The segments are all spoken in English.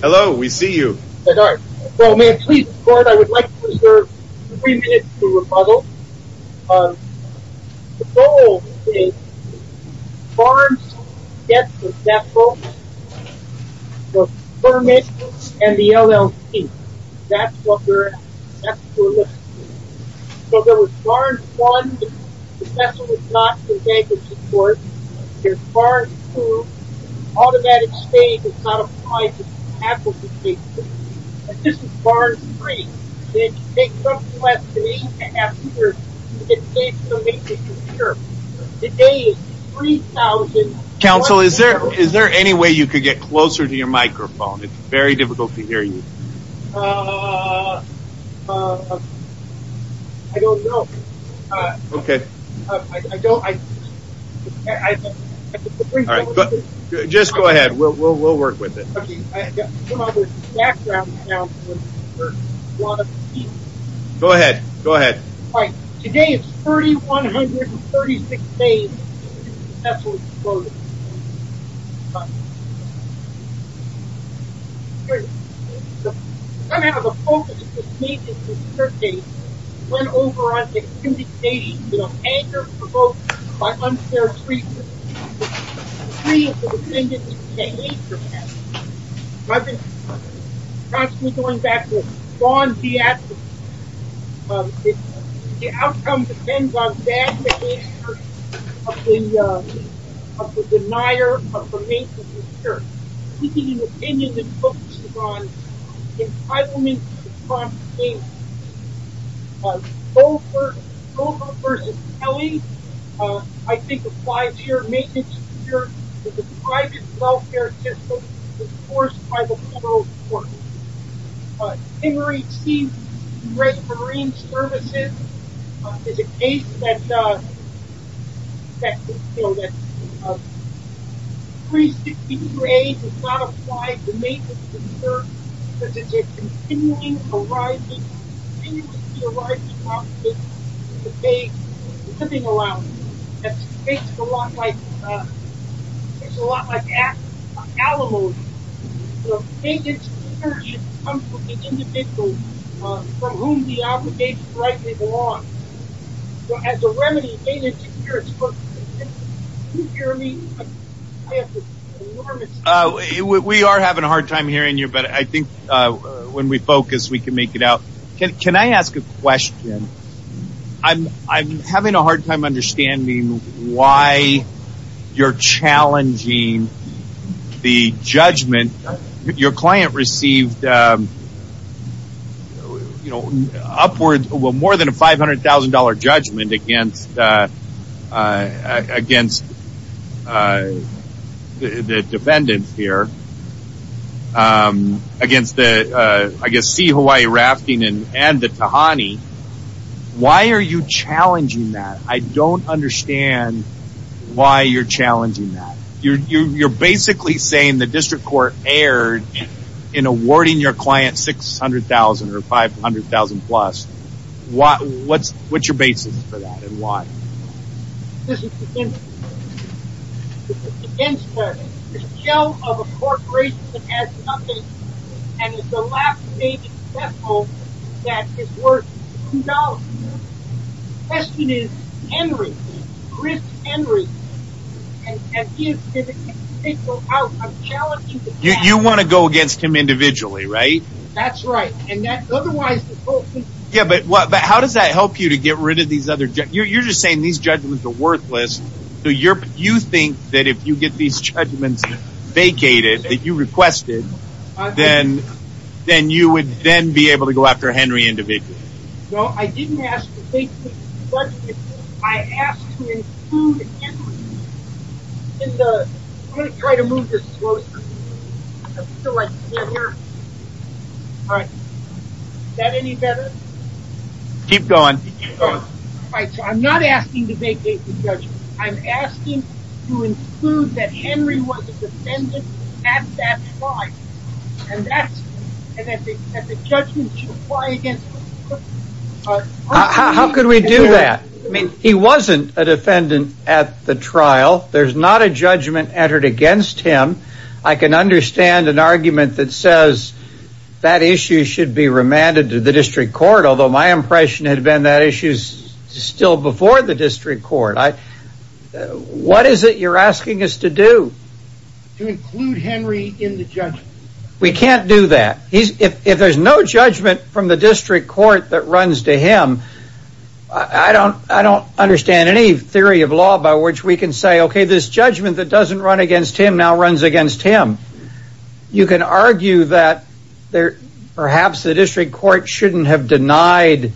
Hello, we see you. Hello, may I please report? I would like to reserve three minutes to rebuttal. The goal is Barnes gets the vessel, the permit, and the LLC. That's what we're looking for. So there was Barnes 1, the vessel was not contained for support. There's Barnes 2, automatic stage is not applied to capability cases. And this is Barnes 3. It took the last eight and a half years to get the state permit to secure. Today is 3,000... Counsel, is there any way you could get closer to your microphone? It's very difficult to hear you. Uh... I don't know. Okay. I don't... I... Just go ahead. We'll work with it. Okay. I don't know if there's a background... Go ahead. Go ahead. Today is 3,136 days since the vessel exploded. Okay. Somehow the focus of this meeting this Thursday went over on the activity stated, you know, anger provoked by unfair treatment. The three of the defendants came in for that. I've been constantly going back to it. The outcome depends on the denier of the maintenance and security. We need an opinion that focuses on entitlement to prompt payment. Governor versus Kelly, I think applies here, maintenance and security to the private welfare system is forced by the federal court. Emory Sea Reservoir Marine Services is a case that... 360 degrees is not applied to maintenance and security because it's a continuing, arising, continuously arising problem to pay living allowance. It's a lot like... It's a lot like animals. Maintenance and security comes from the individual from whom the obligation rightly belongs. As a remedy, maintenance and security... Can you hear me? We are having a hard time hearing you, but I think when we focus, we can make it out. Can I ask a question? I'm having a hard time understanding why you're challenging the judgment. Your client received upwards of more than a $500,000 judgment against the defendants here, against Sea Hawaii Rafting and the Tahani. Why are you challenging that? I don't understand why you're challenging that. You're basically saying the district court erred in awarding your client $600,000 or $500,000 plus. What's your basis for that and why? This is against the... This is a show of a corporation that has nothing and it's a lack of maintenance and security that is worth $2 million. The question is Henry. Chris Henry. And if it can't go out, I'm challenging the judge. You want to go against him individually, right? That's right. Otherwise, the whole thing... How does that help you to get rid of these other... You're just saying these judgments are worthless. You think that if you get these judgments vacated, that you requested, then you would then be able to go after Henry individually. No, I didn't ask to vacate the judgment. I asked to include Henry in the... I'm going to try to move this closer. I feel like it's better here. All right. Is that any better? Keep going. Keep going. All right, so I'm not asking to vacate the judgment. I'm asking to include that Henry was a defendant at that time. And that the judgment should apply against... How could we do that? He wasn't a defendant at the trial. There's not a judgment entered against him. I can understand an argument that says that issue should be remanded to the district court, although my impression had been that issue is still before the district court. What is it you're asking us to do? To include Henry in the judgment. We can't do that. If there's no judgment from the district court that runs to him, I don't understand any theory of law by which we can say, okay, this judgment that doesn't run against him now runs against him. You can argue that perhaps the district court shouldn't have denied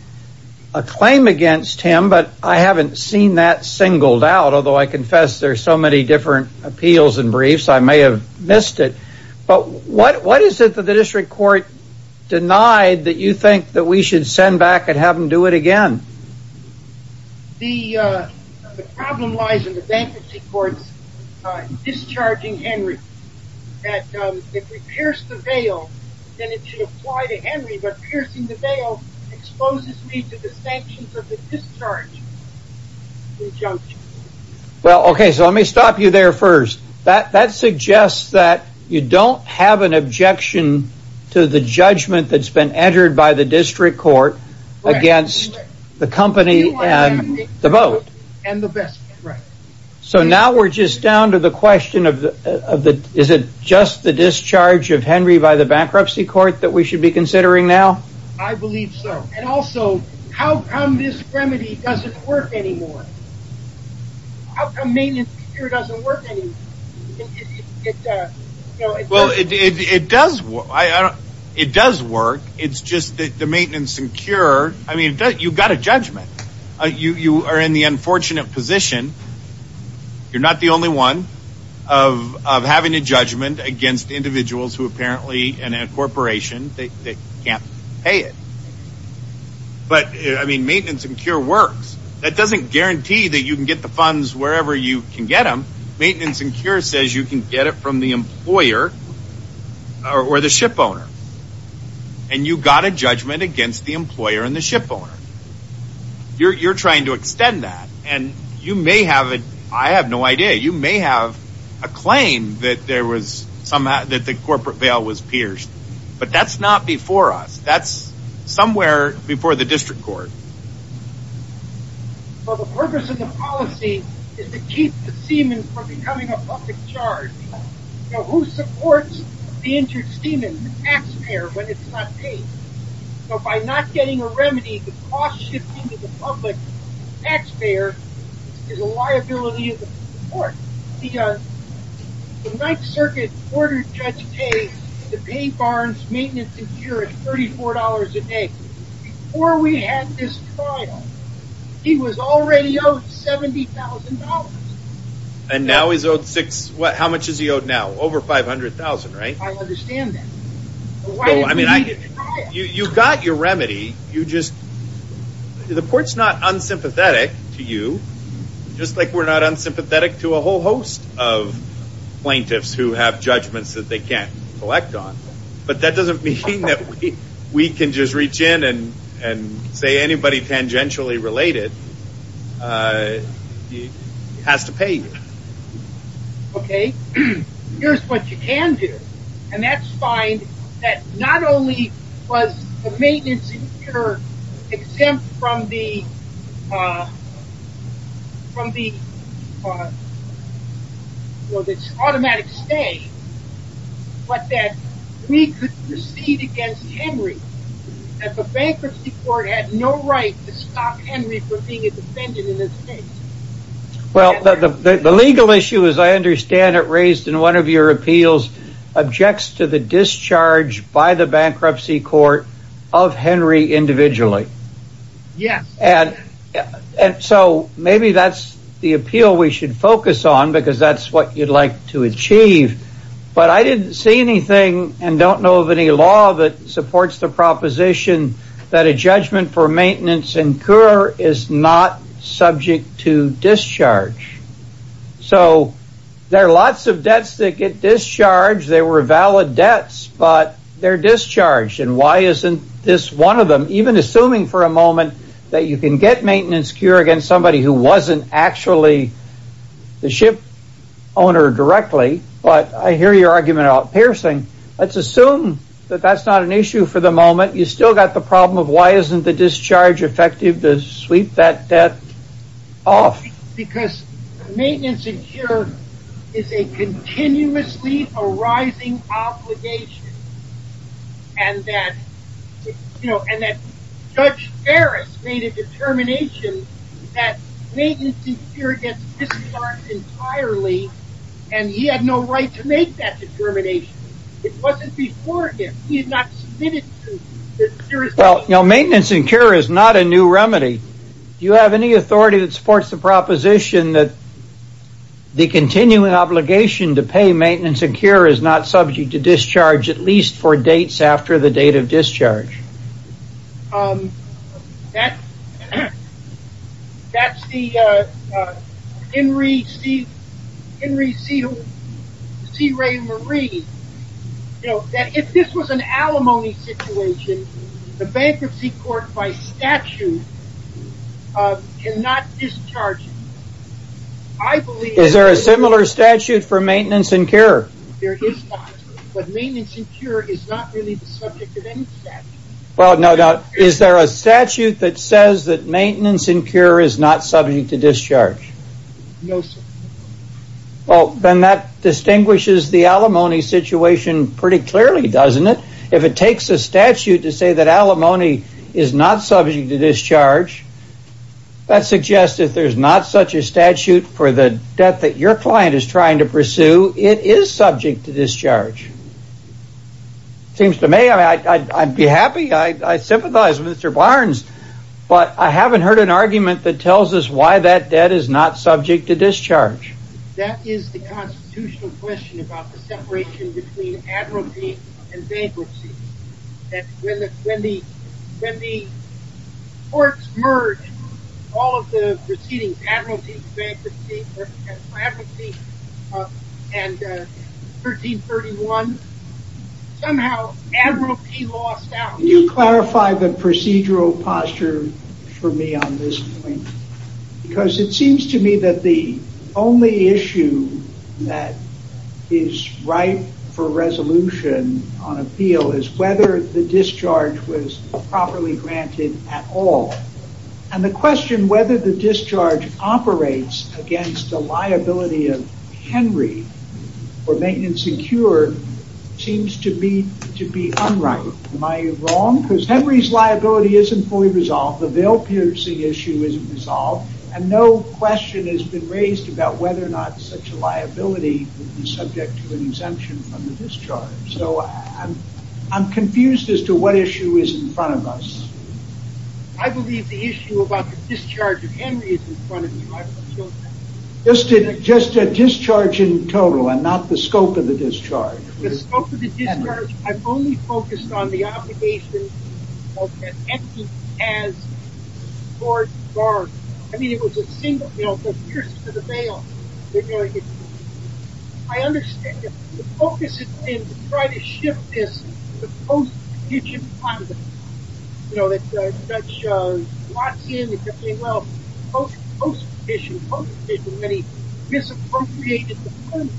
a claim against him, but I haven't seen that singled out, although I confess there are so many different appeals and briefs I may have missed it. But what is it that the district court denied that you think that we should send back and have them do it again? The problem lies in the bankruptcy court's discharging Henry. That if we pierce the veil, then it should apply to Henry, but piercing the veil exposes me to the sanctions of the discharge. Well, okay, so let me stop you there first. That suggests that you don't have an objection to the judgment that's been entered by the district court against the company and the vote. So now we're just down to the question of, is it just the discharge of Henry by the bankruptcy court that we should be considering now? I believe so. And also, how come this remedy doesn't work anymore? How come maintenance and cure doesn't work anymore? Well, it does work. It's just that the maintenance and cure, I mean, you've got a judgment. You are in the unfortunate position. You're not the only one of having a judgment against individuals who apparently, in a corporation, they can't pay it. But, I mean, maintenance and cure works. That doesn't guarantee that you can get the funds wherever you can get them. Maintenance and cure says you can get it from the employer or the shipowner. And you've got a judgment against the employer and the shipowner. You're trying to extend that. And you may have it. I have no idea. You may have a claim that the corporate bail was pierced. But that's not before us. That's somewhere before the district court. Well, the purpose of the policy is to keep the seaman from becoming a public charge. Now, who supports the injured seaman, the taxpayer, when it's not paid? So by not getting a remedy, the cost shifting to the public taxpayer is a liability of the court. The Ninth Circuit ordered Judge Kaye to pay Barnes Maintenance and Cure $34 a day. Before we had this trial, he was already owed $70,000. And now he's owed six. How much is he owed now? Over $500,000, right? I understand that. You've got your remedy. The court's not unsympathetic to you, just like we're not unsympathetic to a whole host of plaintiffs who have judgments that they can't collect on. But that doesn't mean that we can just reach in and say anybody tangentially related has to pay you. Okay. Here's what you can do. And that's fine. That not only was the maintenance and cure exempt from the automatic stay, but that we could proceed against Henry. That the bankruptcy court had no right to stop Henry from being a defendant in this case. Well, the legal issue, as I understand it, raised in one of your appeals, objects to the discharge by the bankruptcy court of Henry individually. Yes. And so maybe that's the appeal we should focus on because that's what you'd like to achieve. But I didn't see anything and don't know of any law that supports the proposition that a judgment for maintenance and cure is not subject to discharge. So there are lots of debts that get discharged. They were valid debts, but they're discharged. And why isn't this one of them? Even assuming for a moment that you can get maintenance cure against somebody who wasn't actually the ship owner directly. But I hear your argument about piercing. Let's assume that that's not an issue for the moment. You still got the problem of why isn't the discharge effective to sweep that debt off? Because maintenance and cure is a continuously arising obligation. And that, you know, and that Judge Ferris made a determination that maintenance and cure gets discharged entirely. And he had no right to make that determination. It wasn't before him. He had not submitted to the jurisdiction. Well, you know, maintenance and cure is not a new remedy. Do you have any authority that supports the proposition that the continuing obligation to pay maintenance and cure is not subject to discharge, at least for dates after the date of discharge? That's the Henry C. Ray Marie. You know, if this was an alimony situation, the bankruptcy court by statute cannot discharge it. Is there a similar statute for maintenance and cure? There is not. But maintenance and cure is not really the subject of any statute. Well, no doubt. Is there a statute that says that maintenance and cure is not subject to discharge? No, sir. Well, then that distinguishes the alimony situation pretty clearly, doesn't it? If it takes a statute to say that alimony is not subject to discharge, that suggests that there's not such a statute for the debt that your client is trying to pursue. It is subject to discharge. Seems to me I'd be happy. I sympathize with Mr. Barnes. But I haven't heard an argument that tells us why that debt is not subject to discharge. That is the constitutional question about the separation between admiralty and bankruptcy. When the courts merge all of the proceedings, admiralty and bankruptcy, and 1331, somehow admiralty lost out. Can you clarify the procedural posture for me on this point? Because it seems to me that the only issue that is right for resolution on appeal is whether the discharge was properly granted at all. And the question whether the discharge operates against the liability of Henry for maintenance and cure seems to be unright. Am I wrong? Because Henry's liability isn't fully resolved. The Vail-Piercing issue isn't resolved. And no question has been raised about whether or not such a liability would be subject to an exemption from the discharge. So I'm confused as to what issue is in front of us. I believe the issue about the discharge of Henry is in front of you. Just a discharge in total and not the scope of the discharge. The scope of the discharge, I've only focused on the obligation of Henry as court guard. I mean, it was a single, you know, pierced to the Vail. I understand that the focus has been to try to shift this to post-petition context. You know, the judge locks in and says, well, post-petition, post-petition, when he misappropriated the funds,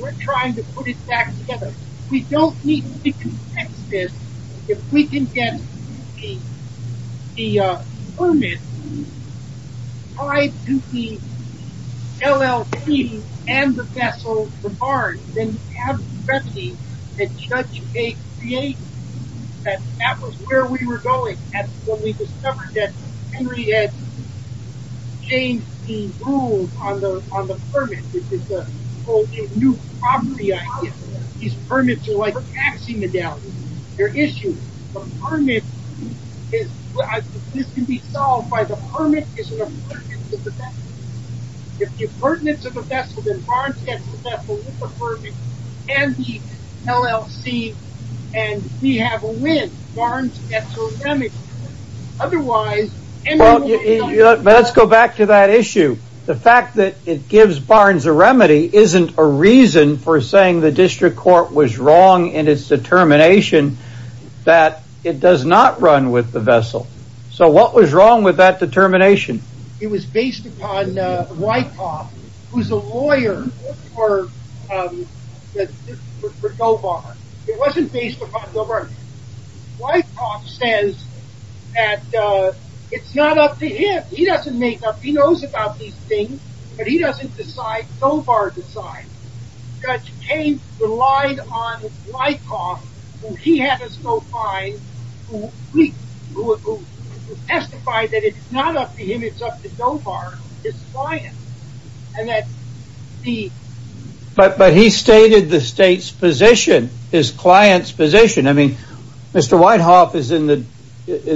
we're trying to put it back together. We don't need to be contextive. If we can get the permit tied to the LLP and the vessel, the barn, then you have the remedy that judge takes the aid. That was where we were going when we discovered that Henry had changed the rules on the permit. This is a whole new property idea. These permits are like taxi medallions. They're issued. The permit is, this can be solved by the permit is pertinent to the vessel. If it's pertinent to the vessel, then Barnes gets the vessel with the permit and the LLC, and we have a win. Barnes gets a remedy. Otherwise, Henry will be held accountable. Let's go back to that issue. The fact that it gives Barnes a remedy isn't a reason for saying the district court was wrong in its determination that it does not run with the vessel. So what was wrong with that determination? It was based upon Wyckoff, who's a lawyer for GoBarn. It wasn't based upon GoBarn. Wyckoff says that it's not up to him. He doesn't make up. He knows about these things, but he doesn't decide. GoBarn decides. Judge came, relied on Wyckoff, who he had us go by, who testified that it's not up to him. It's up to GoBarn, his client, and that the... But he stated the state's position, his client's position. I mean, Mr. Wyckoff is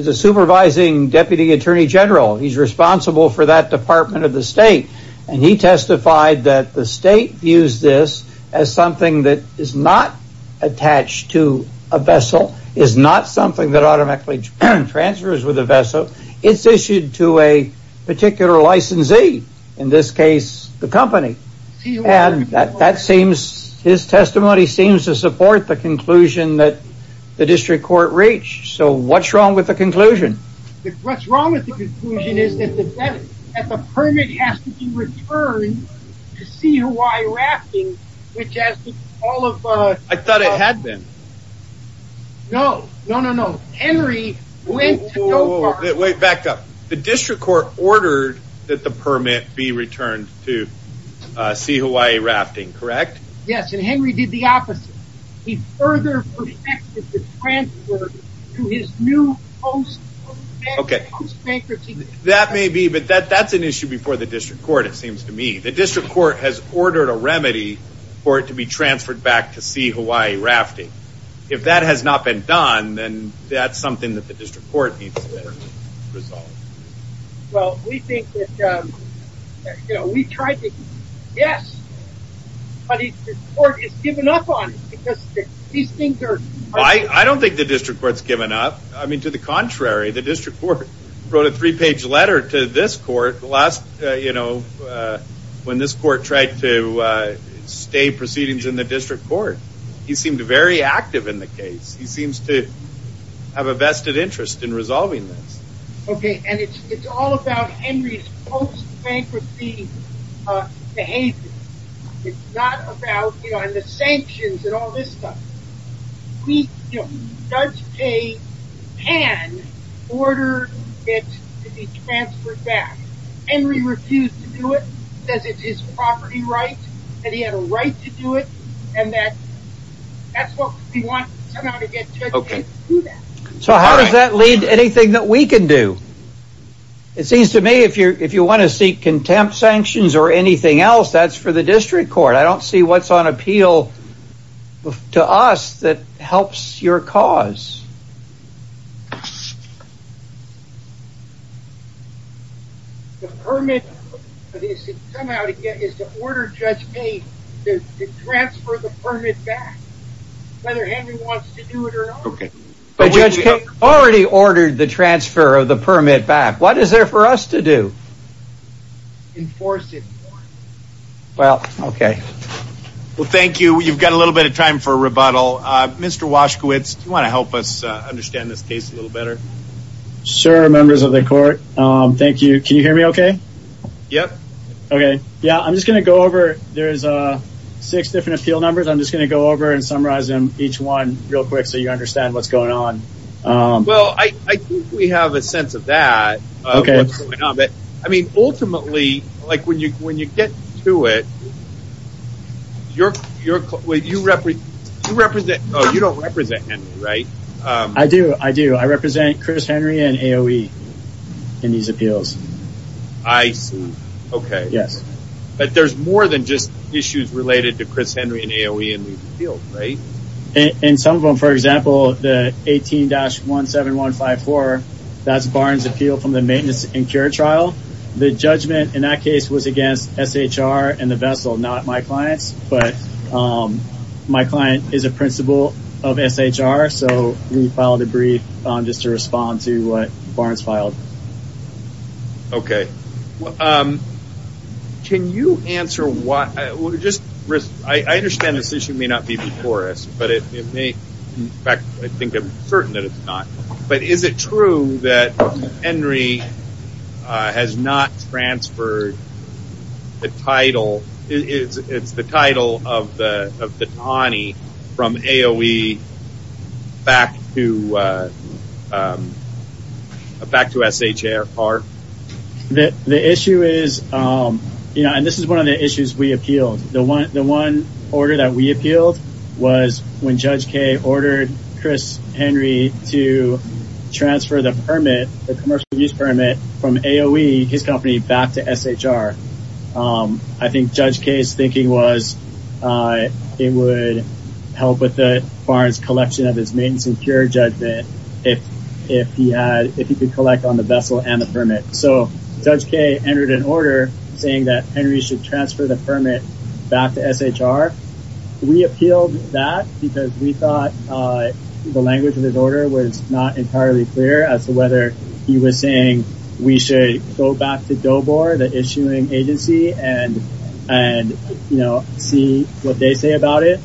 a supervising deputy attorney general. He's responsible for that department of the state, and he testified that the state views this as something that is not attached to a vessel, is not something that automatically transfers with a vessel. It's issued to a particular licensee, in this case the company. And that seems, his testimony seems to support the conclusion that the district court reached. So what's wrong with the conclusion? What's wrong with the conclusion is that the permit has to be returned to see Hawaii Rafting, which has all of... I thought it had been. No, no, no, no. Henry went to GoBarn. Wait, back up. The district court ordered that the permit be returned to see Hawaii Rafting, correct? Yes, and Henry did the opposite. He further protected the transfer to his new post-banker team. That may be, but that's an issue before the district court, it seems to me. The district court has ordered a remedy for it to be transferred back to see Hawaii Rafting. If that has not been done, then that's something that the district court needs to resolve. Well, we think that, you know, we tried to... Yes, but the court has given up on it because these things are... I don't think the district court's given up. I mean, to the contrary, the district court wrote a three-page letter to this court last, you know, when this court tried to stay proceedings in the district court. He seemed very active in the case. He seems to have a vested interest in resolving this. Okay, and it's all about Henry's post-bankruptcy behavior. It's not about, you know, and the sanctions and all this stuff. We, you know, Judge Paye can order it to be transferred back. Henry refused to do it because it's his property rights, and he had a right to do it, and that's what we want to get Judge Paye to do that. So how does that lead to anything that we can do? It seems to me if you want to seek contempt sanctions or anything else, that's for the district court. I don't see what's on appeal to us that helps your cause. The permit is to order Judge Paye to transfer the permit back, whether Henry wants to do it or not. But Judge Paye already ordered the transfer of the permit back. What is there for us to do? Enforce it. Well, okay. Well, thank you. You've got a little bit of time for a rebuttal. Mr. Washkowitz, do you want to help us understand this case a little better? Sure, members of the court. Thank you. Can you hear me okay? Yep. Okay. Yeah, I'm just going to go over. There's six different appeal numbers. I'm just going to go over and summarize them, each one, real quick so you understand what's going on. Well, I think we have a sense of that. Okay. Ultimately, when you get to it, you don't represent Henry, right? I do. I do. I represent Chris Henry and AOE in these appeals. I see. Okay. Yes. But there's more than just issues related to Chris Henry and AOE in these appeals, right? In some of them, for example, the 18-17154, that's Barnes appeal from the maintenance and cure trial. The judgment in that case was against SHR and the vessel, not my clients. But my client is a principal of SHR, so we filed a brief just to respond to what Barnes filed. Okay. Can you answer why? I understand this issue may not be before us, but it may. In fact, I think I'm certain that it's not. But is it true that Henry has not transferred the title? It's the title of the TANI from AOE back to SHR? The issue is, and this is one of the issues we appealed. The one order that we appealed was when Judge Kaye ordered Chris Henry to transfer the permit, the commercial use permit, from AOE, his company, back to SHR. I think Judge Kaye's thinking was it would help with Barnes' collection of his maintenance and cure judgment if he could collect on the vessel and the permit. So Judge Kaye entered an order saying that Henry should transfer the permit back to SHR. We appealed that because we thought the language of his order was not entirely clear as to whether he was saying we should go back to DOBOR, the issuing agency, and see what they say about it.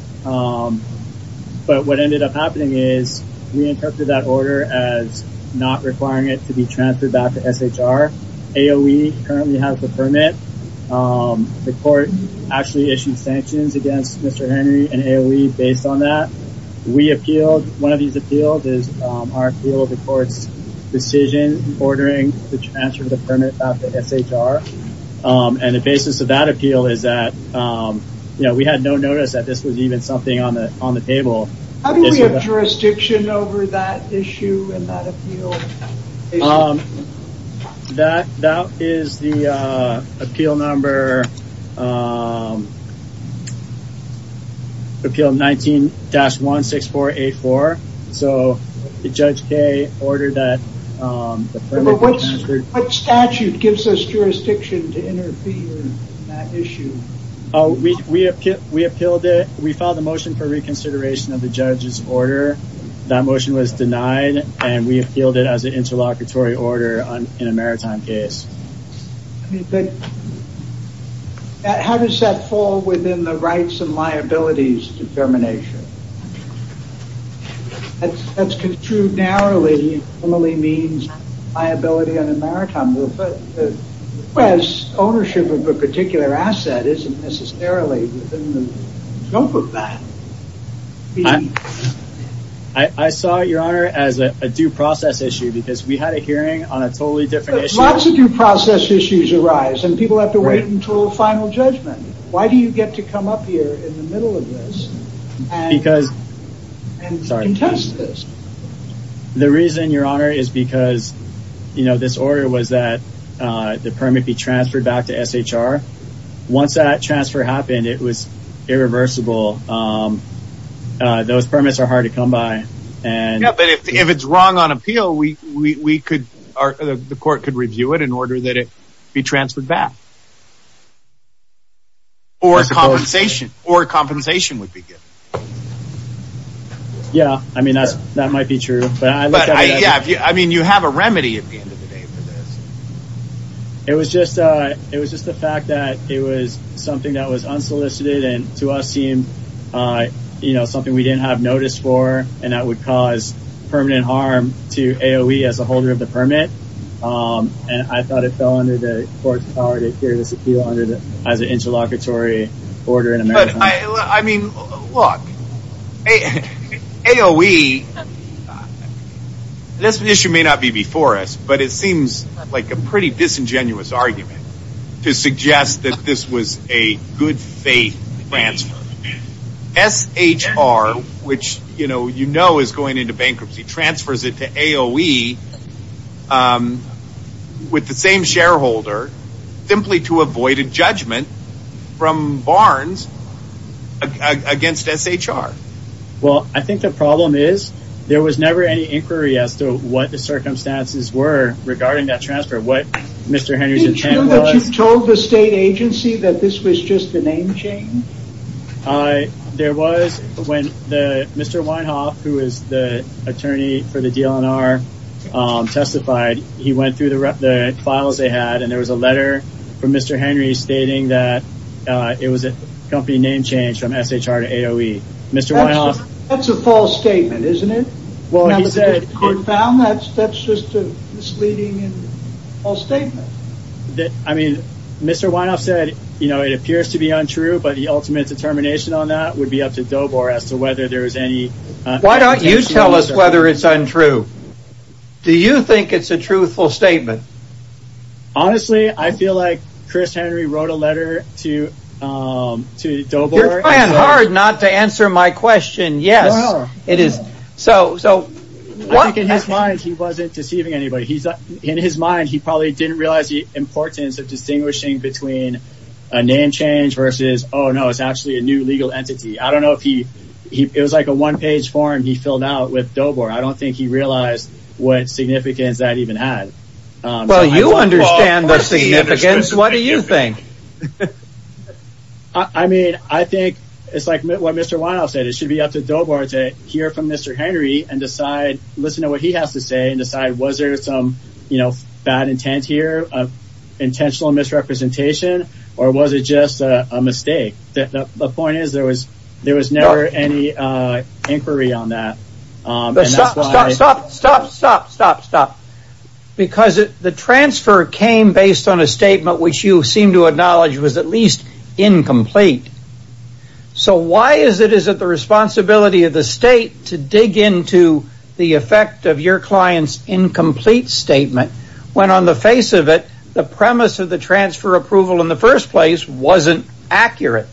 But what ended up happening is we interpreted that order as not requiring it to be transferred back to SHR. AOE currently has the permit. The court actually issued sanctions against Mr. Henry and AOE based on that. We appealed. One of these appeals is our appeal of the court's decision ordering the transfer of the permit back to SHR. And the basis of that appeal is that we had no notice that this was even something on the table. How do we have jurisdiction over that issue and that appeal? That is the appeal number 19-16484. So Judge Kaye ordered that the permit be transferred. What statute gives us jurisdiction to interfere in that issue? We appealed it. We filed a motion for reconsideration of the judge's order. That motion was denied, and we appealed it as an interlocutory order in a maritime case. How does that fall within the rights and liabilities determination? That's construed narrowly. It normally means liability on a maritime rule. Ownership of a particular asset isn't necessarily within the scope of that. I saw it, Your Honor, as a due process issue because we had a hearing on a totally different issue. Lots of due process issues arise, and people have to wait until final judgment. Why do you get to come up here in the middle of this and contest this? The reason, Your Honor, is because this order was that the permit be transferred back to SHR. Once that transfer happened, it was irreversible. Those permits are hard to come by. If it's wrong on appeal, the court could review it in order that it be transferred back. Or compensation would be given. Yeah, that might be true. But you have a remedy at the end of the day for this. It was just the fact that it was something that was unsolicited and to us seemed something we didn't have notice for and that would cause permanent harm to AOE as a holder of the permit. I thought it fell under the court's power to hear this appeal as an interlocutory order in a maritime case. But, I mean, look, AOE, this issue may not be before us, but it seems like a pretty disingenuous argument to suggest that this was a good faith transfer. SHR, which you know is going into bankruptcy, transfers it to AOE with the same shareholder simply to avoid a judgment from Barnes against SHR. Well, I think the problem is there was never any inquiry as to what the circumstances were regarding that transfer, what Mr. Henry's intent was. Did you know that you told the state agency that this was just a name change? There was when Mr. Weinhoff, who is the attorney for the DLNR, testified. He went through the files they had and there was a letter from Mr. Henry stating that it was a company name change from SHR to AOE. That's a false statement, isn't it? Well, he said... That's just a misleading and false statement. I mean, Mr. Weinhoff said, you know, it appears to be untrue, but the ultimate determination on that would be up to DOBOR as to whether there was any... Why don't you tell us whether it's untrue? Do you think it's a truthful statement? Honestly, I feel like Chris Henry wrote a letter to DOBOR... You're trying hard not to answer my question. Yes, it is. I think in his mind, he wasn't deceiving anybody. In his mind, he probably didn't realize the importance of distinguishing between a name change versus, oh, no, it's actually a new legal entity. I don't know if he... It was like a one-page form he filled out with DOBOR. I don't think he realized what significance that even had. Well, you understand the significance. What do you think? I mean, I think it's like what Mr. Weinhoff said. It should be up to DOBOR to hear from Mr. Henry and listen to what he has to say and decide, was there some bad intent here, intentional misrepresentation, or was it just a mistake? The point is, there was never any inquiry on that. Stop, stop, stop, stop, stop, stop, stop. Because the transfer came based on a statement which you seem to acknowledge was at least incomplete. So why is it the responsibility of the state to dig into the effect of your client's incomplete statement when on the face of it, the premise of the transfer approval in the first place wasn't accurate?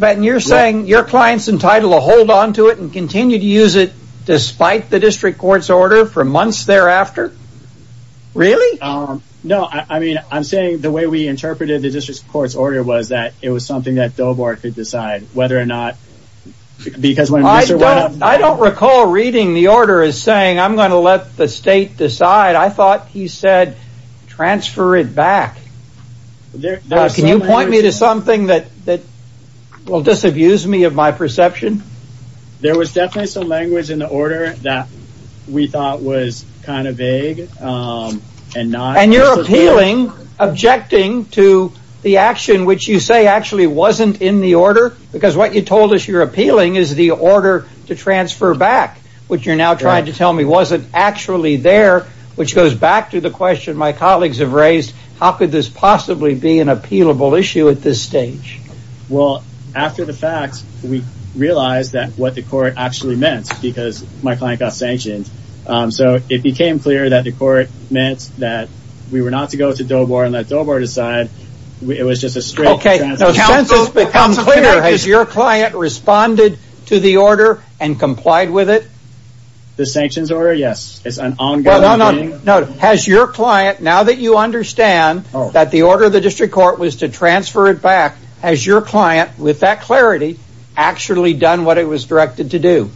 You're saying your client's entitled to hold on to it and continue to use it despite the district court's order for months thereafter? Really? No, I mean, I'm saying the way we interpreted the district court's order was that it was something that DOBOR could decide whether or not... I don't recall reading the order as saying I'm going to let the state decide. I thought he said transfer it back. Can you point me to something that will disabuse me of my perception? There was definitely some language in the order that we thought was kind of vague and not... And you're appealing, objecting to the action which you say actually wasn't in the order because what you told us you're appealing is the order to transfer back, which you're now trying to tell me wasn't actually there, which goes back to the question my colleagues have raised. How could this possibly be an appealable issue at this stage? Well, after the fact, we realized what the court actually meant because my client got sanctioned. So it became clear that the court meant that we were not to go to DOBOR and let DOBOR decide. It was just a straight transfer. Has your client responded to the order and complied with it? The sanctions order, yes. It's an ongoing thing. Has your client, now that you understand that the order of the district court was to transfer it back, has your client, with that clarity, actually done what it was directed to do?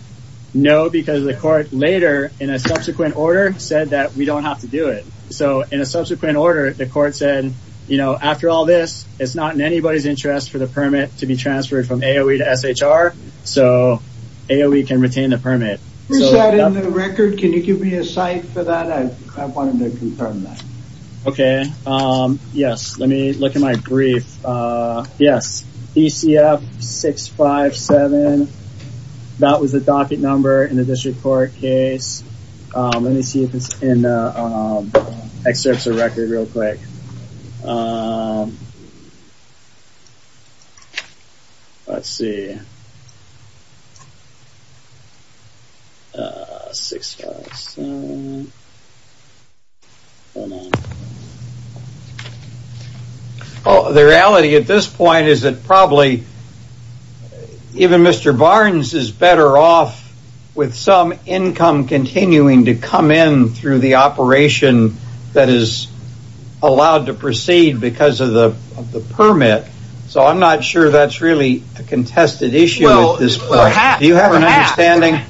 No, because the court later, in a subsequent order, said that we don't have to do it. So in a subsequent order, the court said, you know, after all this, it's not in anybody's interest for the permit to be transferred from AOE to SHR. So AOE can retain the permit. Is that in the record? Can you give me a cite for that? I wanted to confirm that. Okay. Yes. Let me look at my brief. Yes. DCF 657. That was the docket number in the district court case. Let me see if it's in the excerpts of record real quick. Let's see. 657. The reality at this point is that probably even Mr. Barnes is better off with some income continuing to come in through the operation that is allowed to proceed because of the permit. So I'm not sure that's really a contested issue at this point. Do you have an understanding?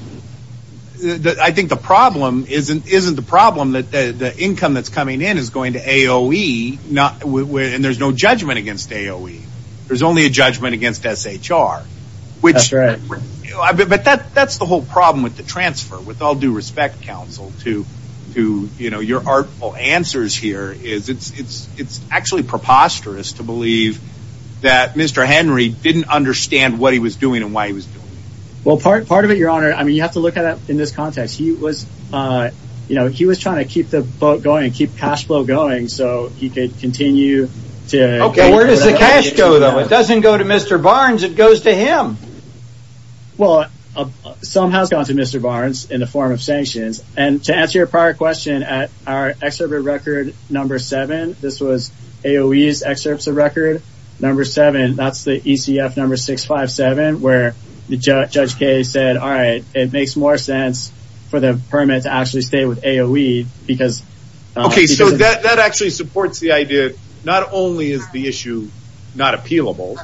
I think the problem isn't the income that's coming in is going to AOE, and there's no judgment against AOE. There's only a judgment against SHR. But that's the whole problem with the transfer, with all due respect, Counsel, to your artful answers here. It's actually preposterous to believe that Mr. Henry didn't understand what he was doing and why he was doing it. Well, part of it, Your Honor, you have to look at it in this context. He was trying to keep the boat going, keep cash flow going, so he could continue. Okay, where does the cash go, though? It doesn't go to Mr. Barnes. It goes to him. Well, some has gone to Mr. Barnes in the form of sanctions. And to answer your prior question, at our excerpt of record number 7, this was AOE's excerpts of record number 7. That's the ECF number 657, where Judge Kaye said, all right, it makes more sense for the permit to actually stay with AOE. Okay, so that actually supports the idea, not only is the issue not appealable,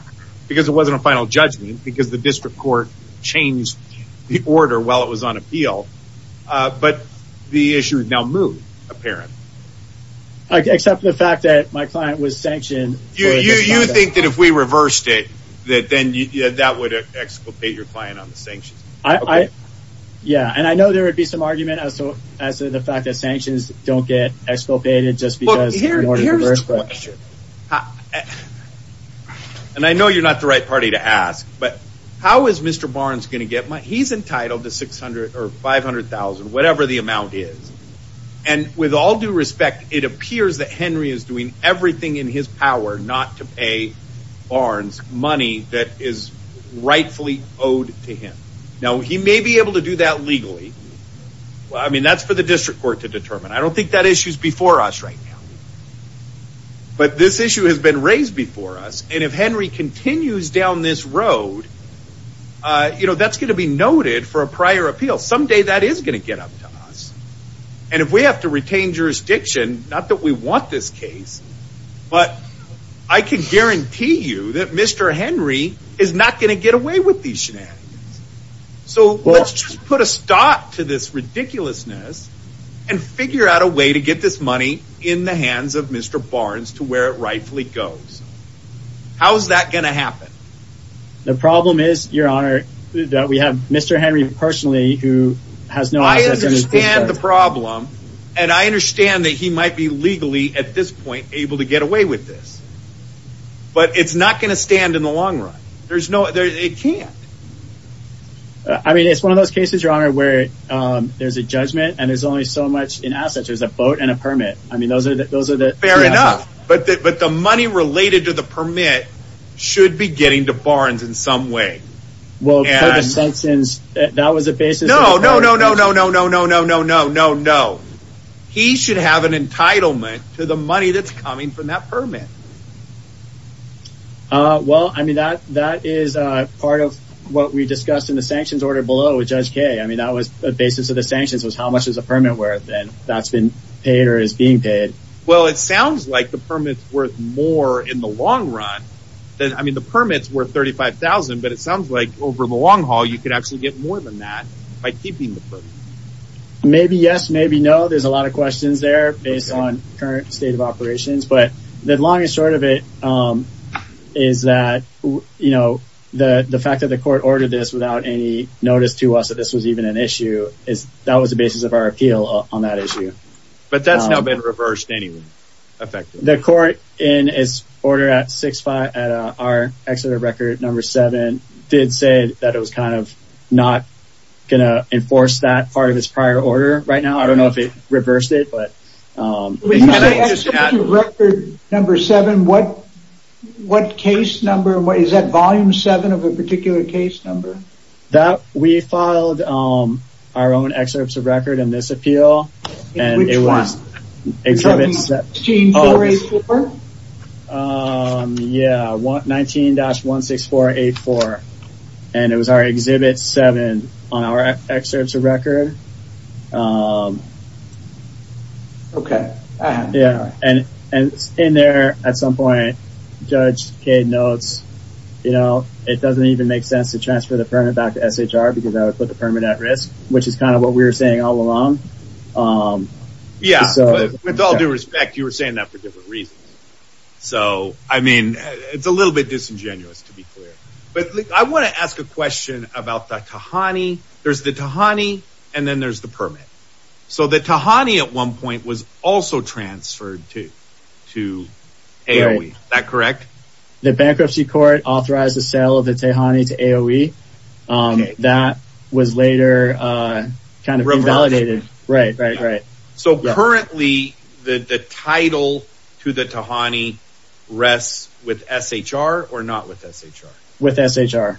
because it wasn't a final judgment, because the district court changed the order while it was on appeal, but the issue has now moved, apparently. Except for the fact that my client was sanctioned. You think that if we reversed it, that then that would exculpate your client on the sanctions? Yeah, and I know there would be some argument as to the fact that sanctions don't get exculpated just because the order reversed. Look, here's the question, and I know you're not the right party to ask, but how is Mr. Barnes going to get money? He's entitled to $500,000, whatever the amount is, and with all due respect, it appears that Henry is doing everything in his power not to pay Barnes money that is rightfully owed to him. Now, he may be able to do that legally. I mean, that's for the district court to determine. I don't think that issue is before us right now. But this issue has been raised before us, and if Henry continues down this road, that's going to be noted for a prior appeal. Someday that is going to get up to us. And if we have to retain jurisdiction, not that we want this case, but I can guarantee you that Mr. Henry is not going to get away with these shenanigans. So let's just put a stop to this ridiculousness and figure out a way to get this money in the hands of Mr. Barnes to where it rightfully goes. How is that going to happen? The problem is, Your Honor, that we have Mr. Henry personally who has no access to the district court. I understand the problem, and I understand that he might be legally, at this point, able to get away with this. But it's not going to stand in the long run. It can't. I mean, it's one of those cases, Your Honor, where there's a judgment and there's only so much in assets. There's a boat and a permit. Fair enough. But the money related to the permit should be getting to Barnes in some way. No, no, no, no, no, no, no, no, no, no, no. He should have an entitlement to the money that's coming from that permit. Well, I mean, that is part of what we discussed in the sanctions order below with Judge Kaye. I mean, that was the basis of the sanctions was how much is a permit worth, and that's been paid or is being paid. Well, it sounds like the permit's worth more in the long run. I mean, the permit's worth $35,000, but it sounds like over the long haul you could actually get more than that by keeping the permit. Maybe yes, maybe no. There's a lot of questions there based on current state of operations. But the long and short of it is that, you know, the fact that the court ordered this without any notice to us that this was even an issue, that was the basis of our appeal on that issue. But that's now been reversed anyway, effectively. The court, in its order at 6-5, at our excerpt of record number 7, did say that it was kind of not going to enforce that part of its prior order right now. I don't know if it reversed it, but... When you say excerpt of record number 7, what case number, is that volume 7 of a particular case number? We filed our own excerpts of record in this appeal. Which one? 17-16484? Yeah, 19-16484. And it was our Exhibit 7 on our excerpts of record. Okay. And in there, at some point, Judge Cade notes, you know, it doesn't even make sense to transfer the permit back to SHR because that would put the permit at risk. Which is kind of what we were saying all along. Yeah, with all due respect, you were saying that for different reasons. So, I mean, it's a little bit disingenuous, to be clear. But I want to ask a question about the Tahani. There's the Tahani, and then there's the permit. So, the Tahani, at one point, was also transferred to AOE. Is that correct? The Bankruptcy Court authorized the sale of the Tahani to AOE. That was later kind of invalidated. Right, right, right. So, currently, the title to the Tahani rests with SHR or not with SHR? With SHR.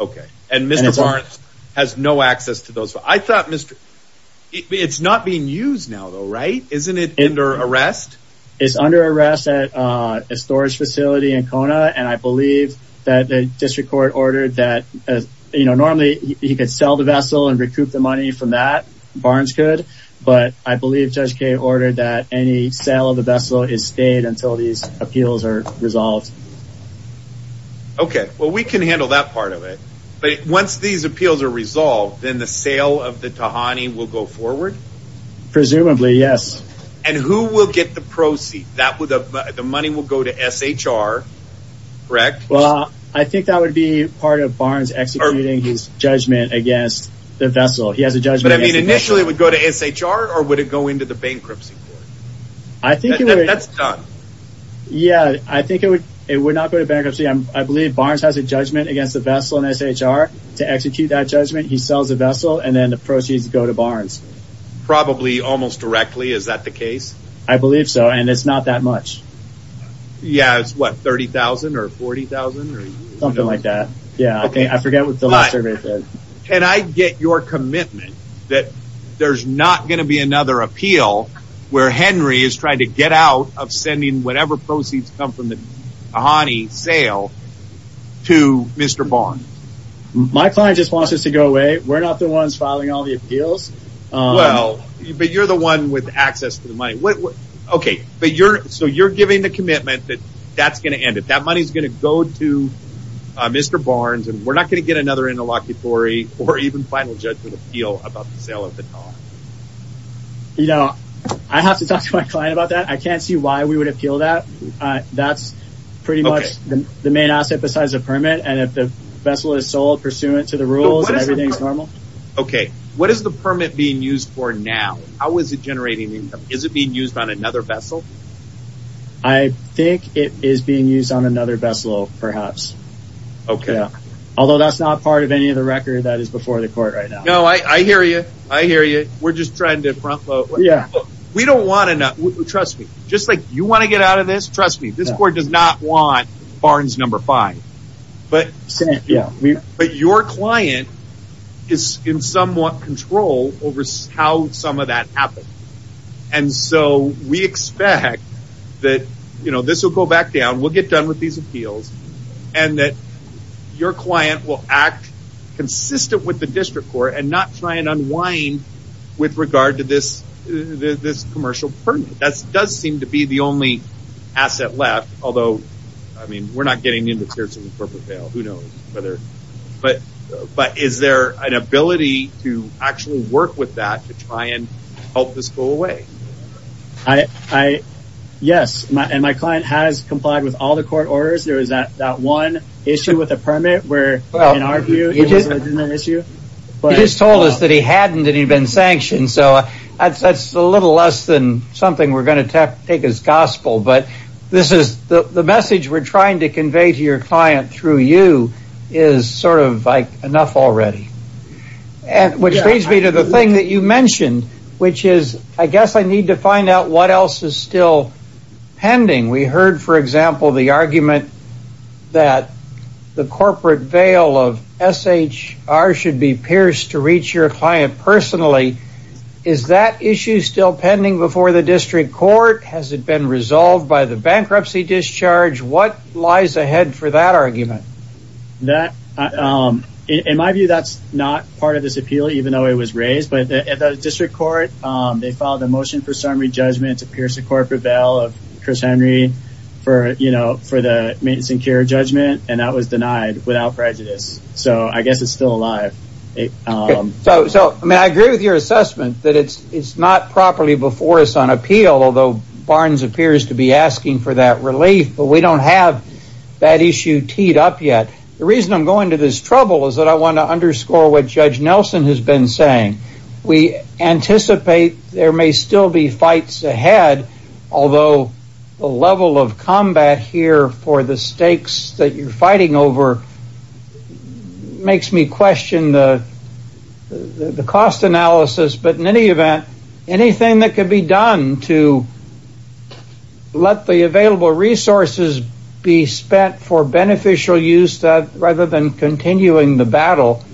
Okay. And Mr. Barnes has no access to those. I thought, Mr. It's not being used now, though, right? Isn't it under arrest? It's under arrest at a storage facility in Kona. And I believe that the District Court ordered that, you know, normally, he could sell the vessel and recoup the money from that. Barnes could. But I believe Judge Cade ordered that any sale of the vessel is stayed until these appeals are resolved. Okay. Well, we can handle that part of it. But once these appeals are resolved, then the sale of the Tahani will go forward? Presumably, yes. And who will get the proceed? The money will go to SHR, correct? Well, I think that would be part of Barnes executing his judgment against the vessel. He has a judgment against the vessel. But, I mean, initially, it would go to SHR or would it go into the Bankruptcy Court? I think it would. That's done. Yeah. I think it would not go to Bankruptcy. I believe Barnes has a judgment against the vessel in SHR. To execute that judgment, he sells the vessel and then the proceeds go to Barnes. Probably almost directly. Is that the case? I believe so. And it's not that much. Yeah. It's, what, $30,000 or $40,000? Something like that. Yeah. I forget what the last survey said. Can I get your commitment that there's not going to be another appeal where Henry is trying to get out of sending whatever proceeds come from the Ahani sale to Mr. Barnes? My client just wants this to go away. We're not the ones filing all the appeals. Well, but you're the one with access to the money. Okay. So, you're giving the commitment that that's going to end it. That money is going to go to Mr. Barnes and we're not going to get another interlocutory or even final judgment appeal about the sale of the car. You know, I have to talk to my client about that. I can't see why we would appeal that. That's pretty much the main asset besides the permit. And if the vessel is sold pursuant to the rules and everything is normal. Okay. What is the permit being used for now? How is it generating income? Is it being used on another vessel? I think it is being used on another vessel, perhaps. Okay. Although that's not part of any of the record that is before the court right now. No, I hear you. I hear you. We're just trying to front load. Yeah. We don't want enough. Trust me. Just like you want to get out of this. Trust me. This court does not want Barnes number five. But your client is in somewhat control over how some of that happens. And so, we expect that, you know, this will go back down. We'll get done with these appeals. And that your client will act consistent with the district court and not try and unwind with regard to this commercial permit. That does seem to be the only asset left. Although, I mean, we're not getting into tears in the corporate veil. Who knows? But is there an ability to actually work with that to try and help this go away? Yes. And my client has complied with all the court orders. There was that one issue with the permit where, in our view, it was a legitimate issue. He just told us that he hadn't and he'd been sanctioned. So, that's a little less than something we're going to take as gospel. But the message we're trying to convey to your client through you is sort of like enough already. Which brings me to the thing that you mentioned, which is I guess I need to find out what else is still pending. We heard, for example, the argument that the corporate veil of SHR should be pierced to reach your client personally. Is that issue still pending before the district court? Has it been resolved by the bankruptcy discharge? What lies ahead for that argument? In my view, that's not part of this appeal, even though it was raised. But at the district court, they filed a motion for summary judgment to pierce the corporate veil of Chris Henry for the maintenance and care judgment. And that was denied without prejudice. So, I guess it's still alive. So, I agree with your assessment that it's not properly before us on appeal. Although Barnes appears to be asking for that relief. But we don't have that issue teed up yet. The reason I'm going to this trouble is that I want to underscore what Judge Nelson has been saying. We anticipate there may still be fights ahead. Although the level of combat here for the stakes that you're fighting over makes me question the cost analysis. But in any event, anything that could be done to let the available resources be spent for beneficial use rather than continuing the battle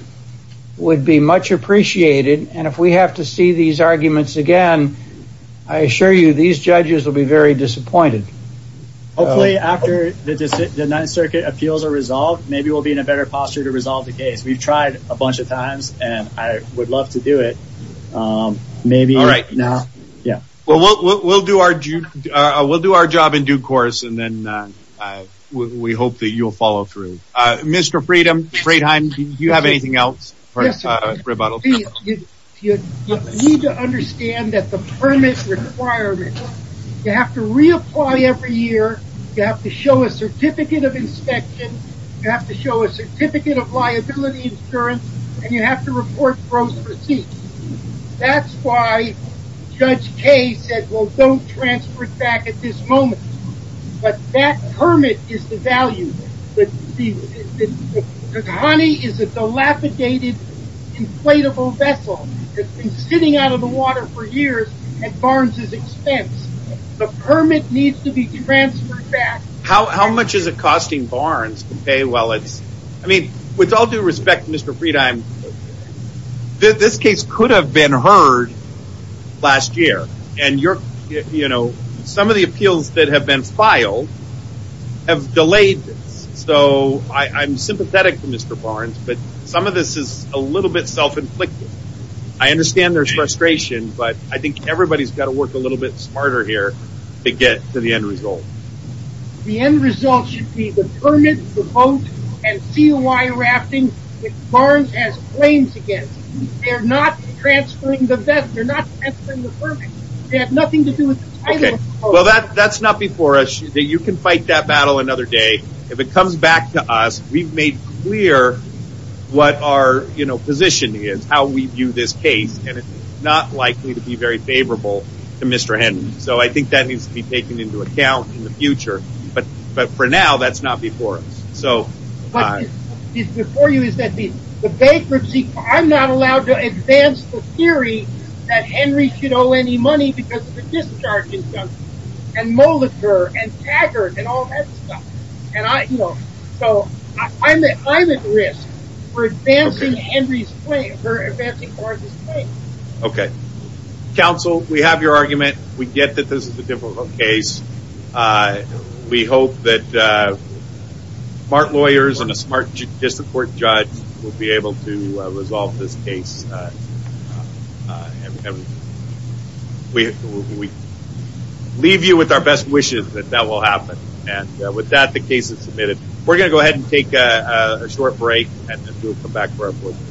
would be much appreciated. And if we have to see these arguments again, I assure you, these judges will be very disappointed. Hopefully, after the Ninth Circuit appeals are resolved, maybe we'll be in a better posture to resolve the case. We've tried a bunch of times, and I would love to do it. Maybe not. Well, we'll do our job in due course, and then we hope that you'll follow through. Mr. Friedheim, do you have anything else? You need to understand that the permit requirement, you have to reapply every year. You have to show a certificate of inspection. You have to show a certificate of liability insurance, and you have to report gross receipts. That's why Judge Kaye said, well, don't transfer it back at this moment. But that permit is devalued. Honey is a dilapidated, inflatable vessel that's been sitting out of the water for years at Barnes' expense. The permit needs to be transferred back. How much is it costing Barnes to pay? I mean, with all due respect, Mr. Friedheim, this case could have been heard last year. And, you know, some of the appeals that have been filed have delayed this. So I'm sympathetic to Mr. Barnes, but some of this is a little bit self-inflicted. I understand there's frustration, but I think everybody's got to work a little bit smarter here to get to the end result. The end result should be the permit, the boat, and COI rafting that Barnes has claims against. They're not transferring the permit. They have nothing to do with the title of the boat. Well, that's not before us. You can fight that battle another day. If it comes back to us, we've made clear what our, you know, position is, how we view this case. And it's not likely to be very favorable to Mr. Hendon. So I think that needs to be taken into account in the future. But for now, that's not before us. What is before you is that the bankruptcy, I'm not allowed to advance the theory that Henry should owe any money because of the discharges, and Molitor, and Taggart, and all that stuff. And I, you know, so I'm at risk for advancing Henry's claim, for advancing Barnes's claim. Okay. Counsel, we have your argument. We get that this is a difficult case. We hope that smart lawyers and a smart district court judge will be able to resolve this case. We leave you with our best wishes that that will happen. And with that, the case is submitted. We're going to go ahead and take a short break, and then we'll come back for our closing.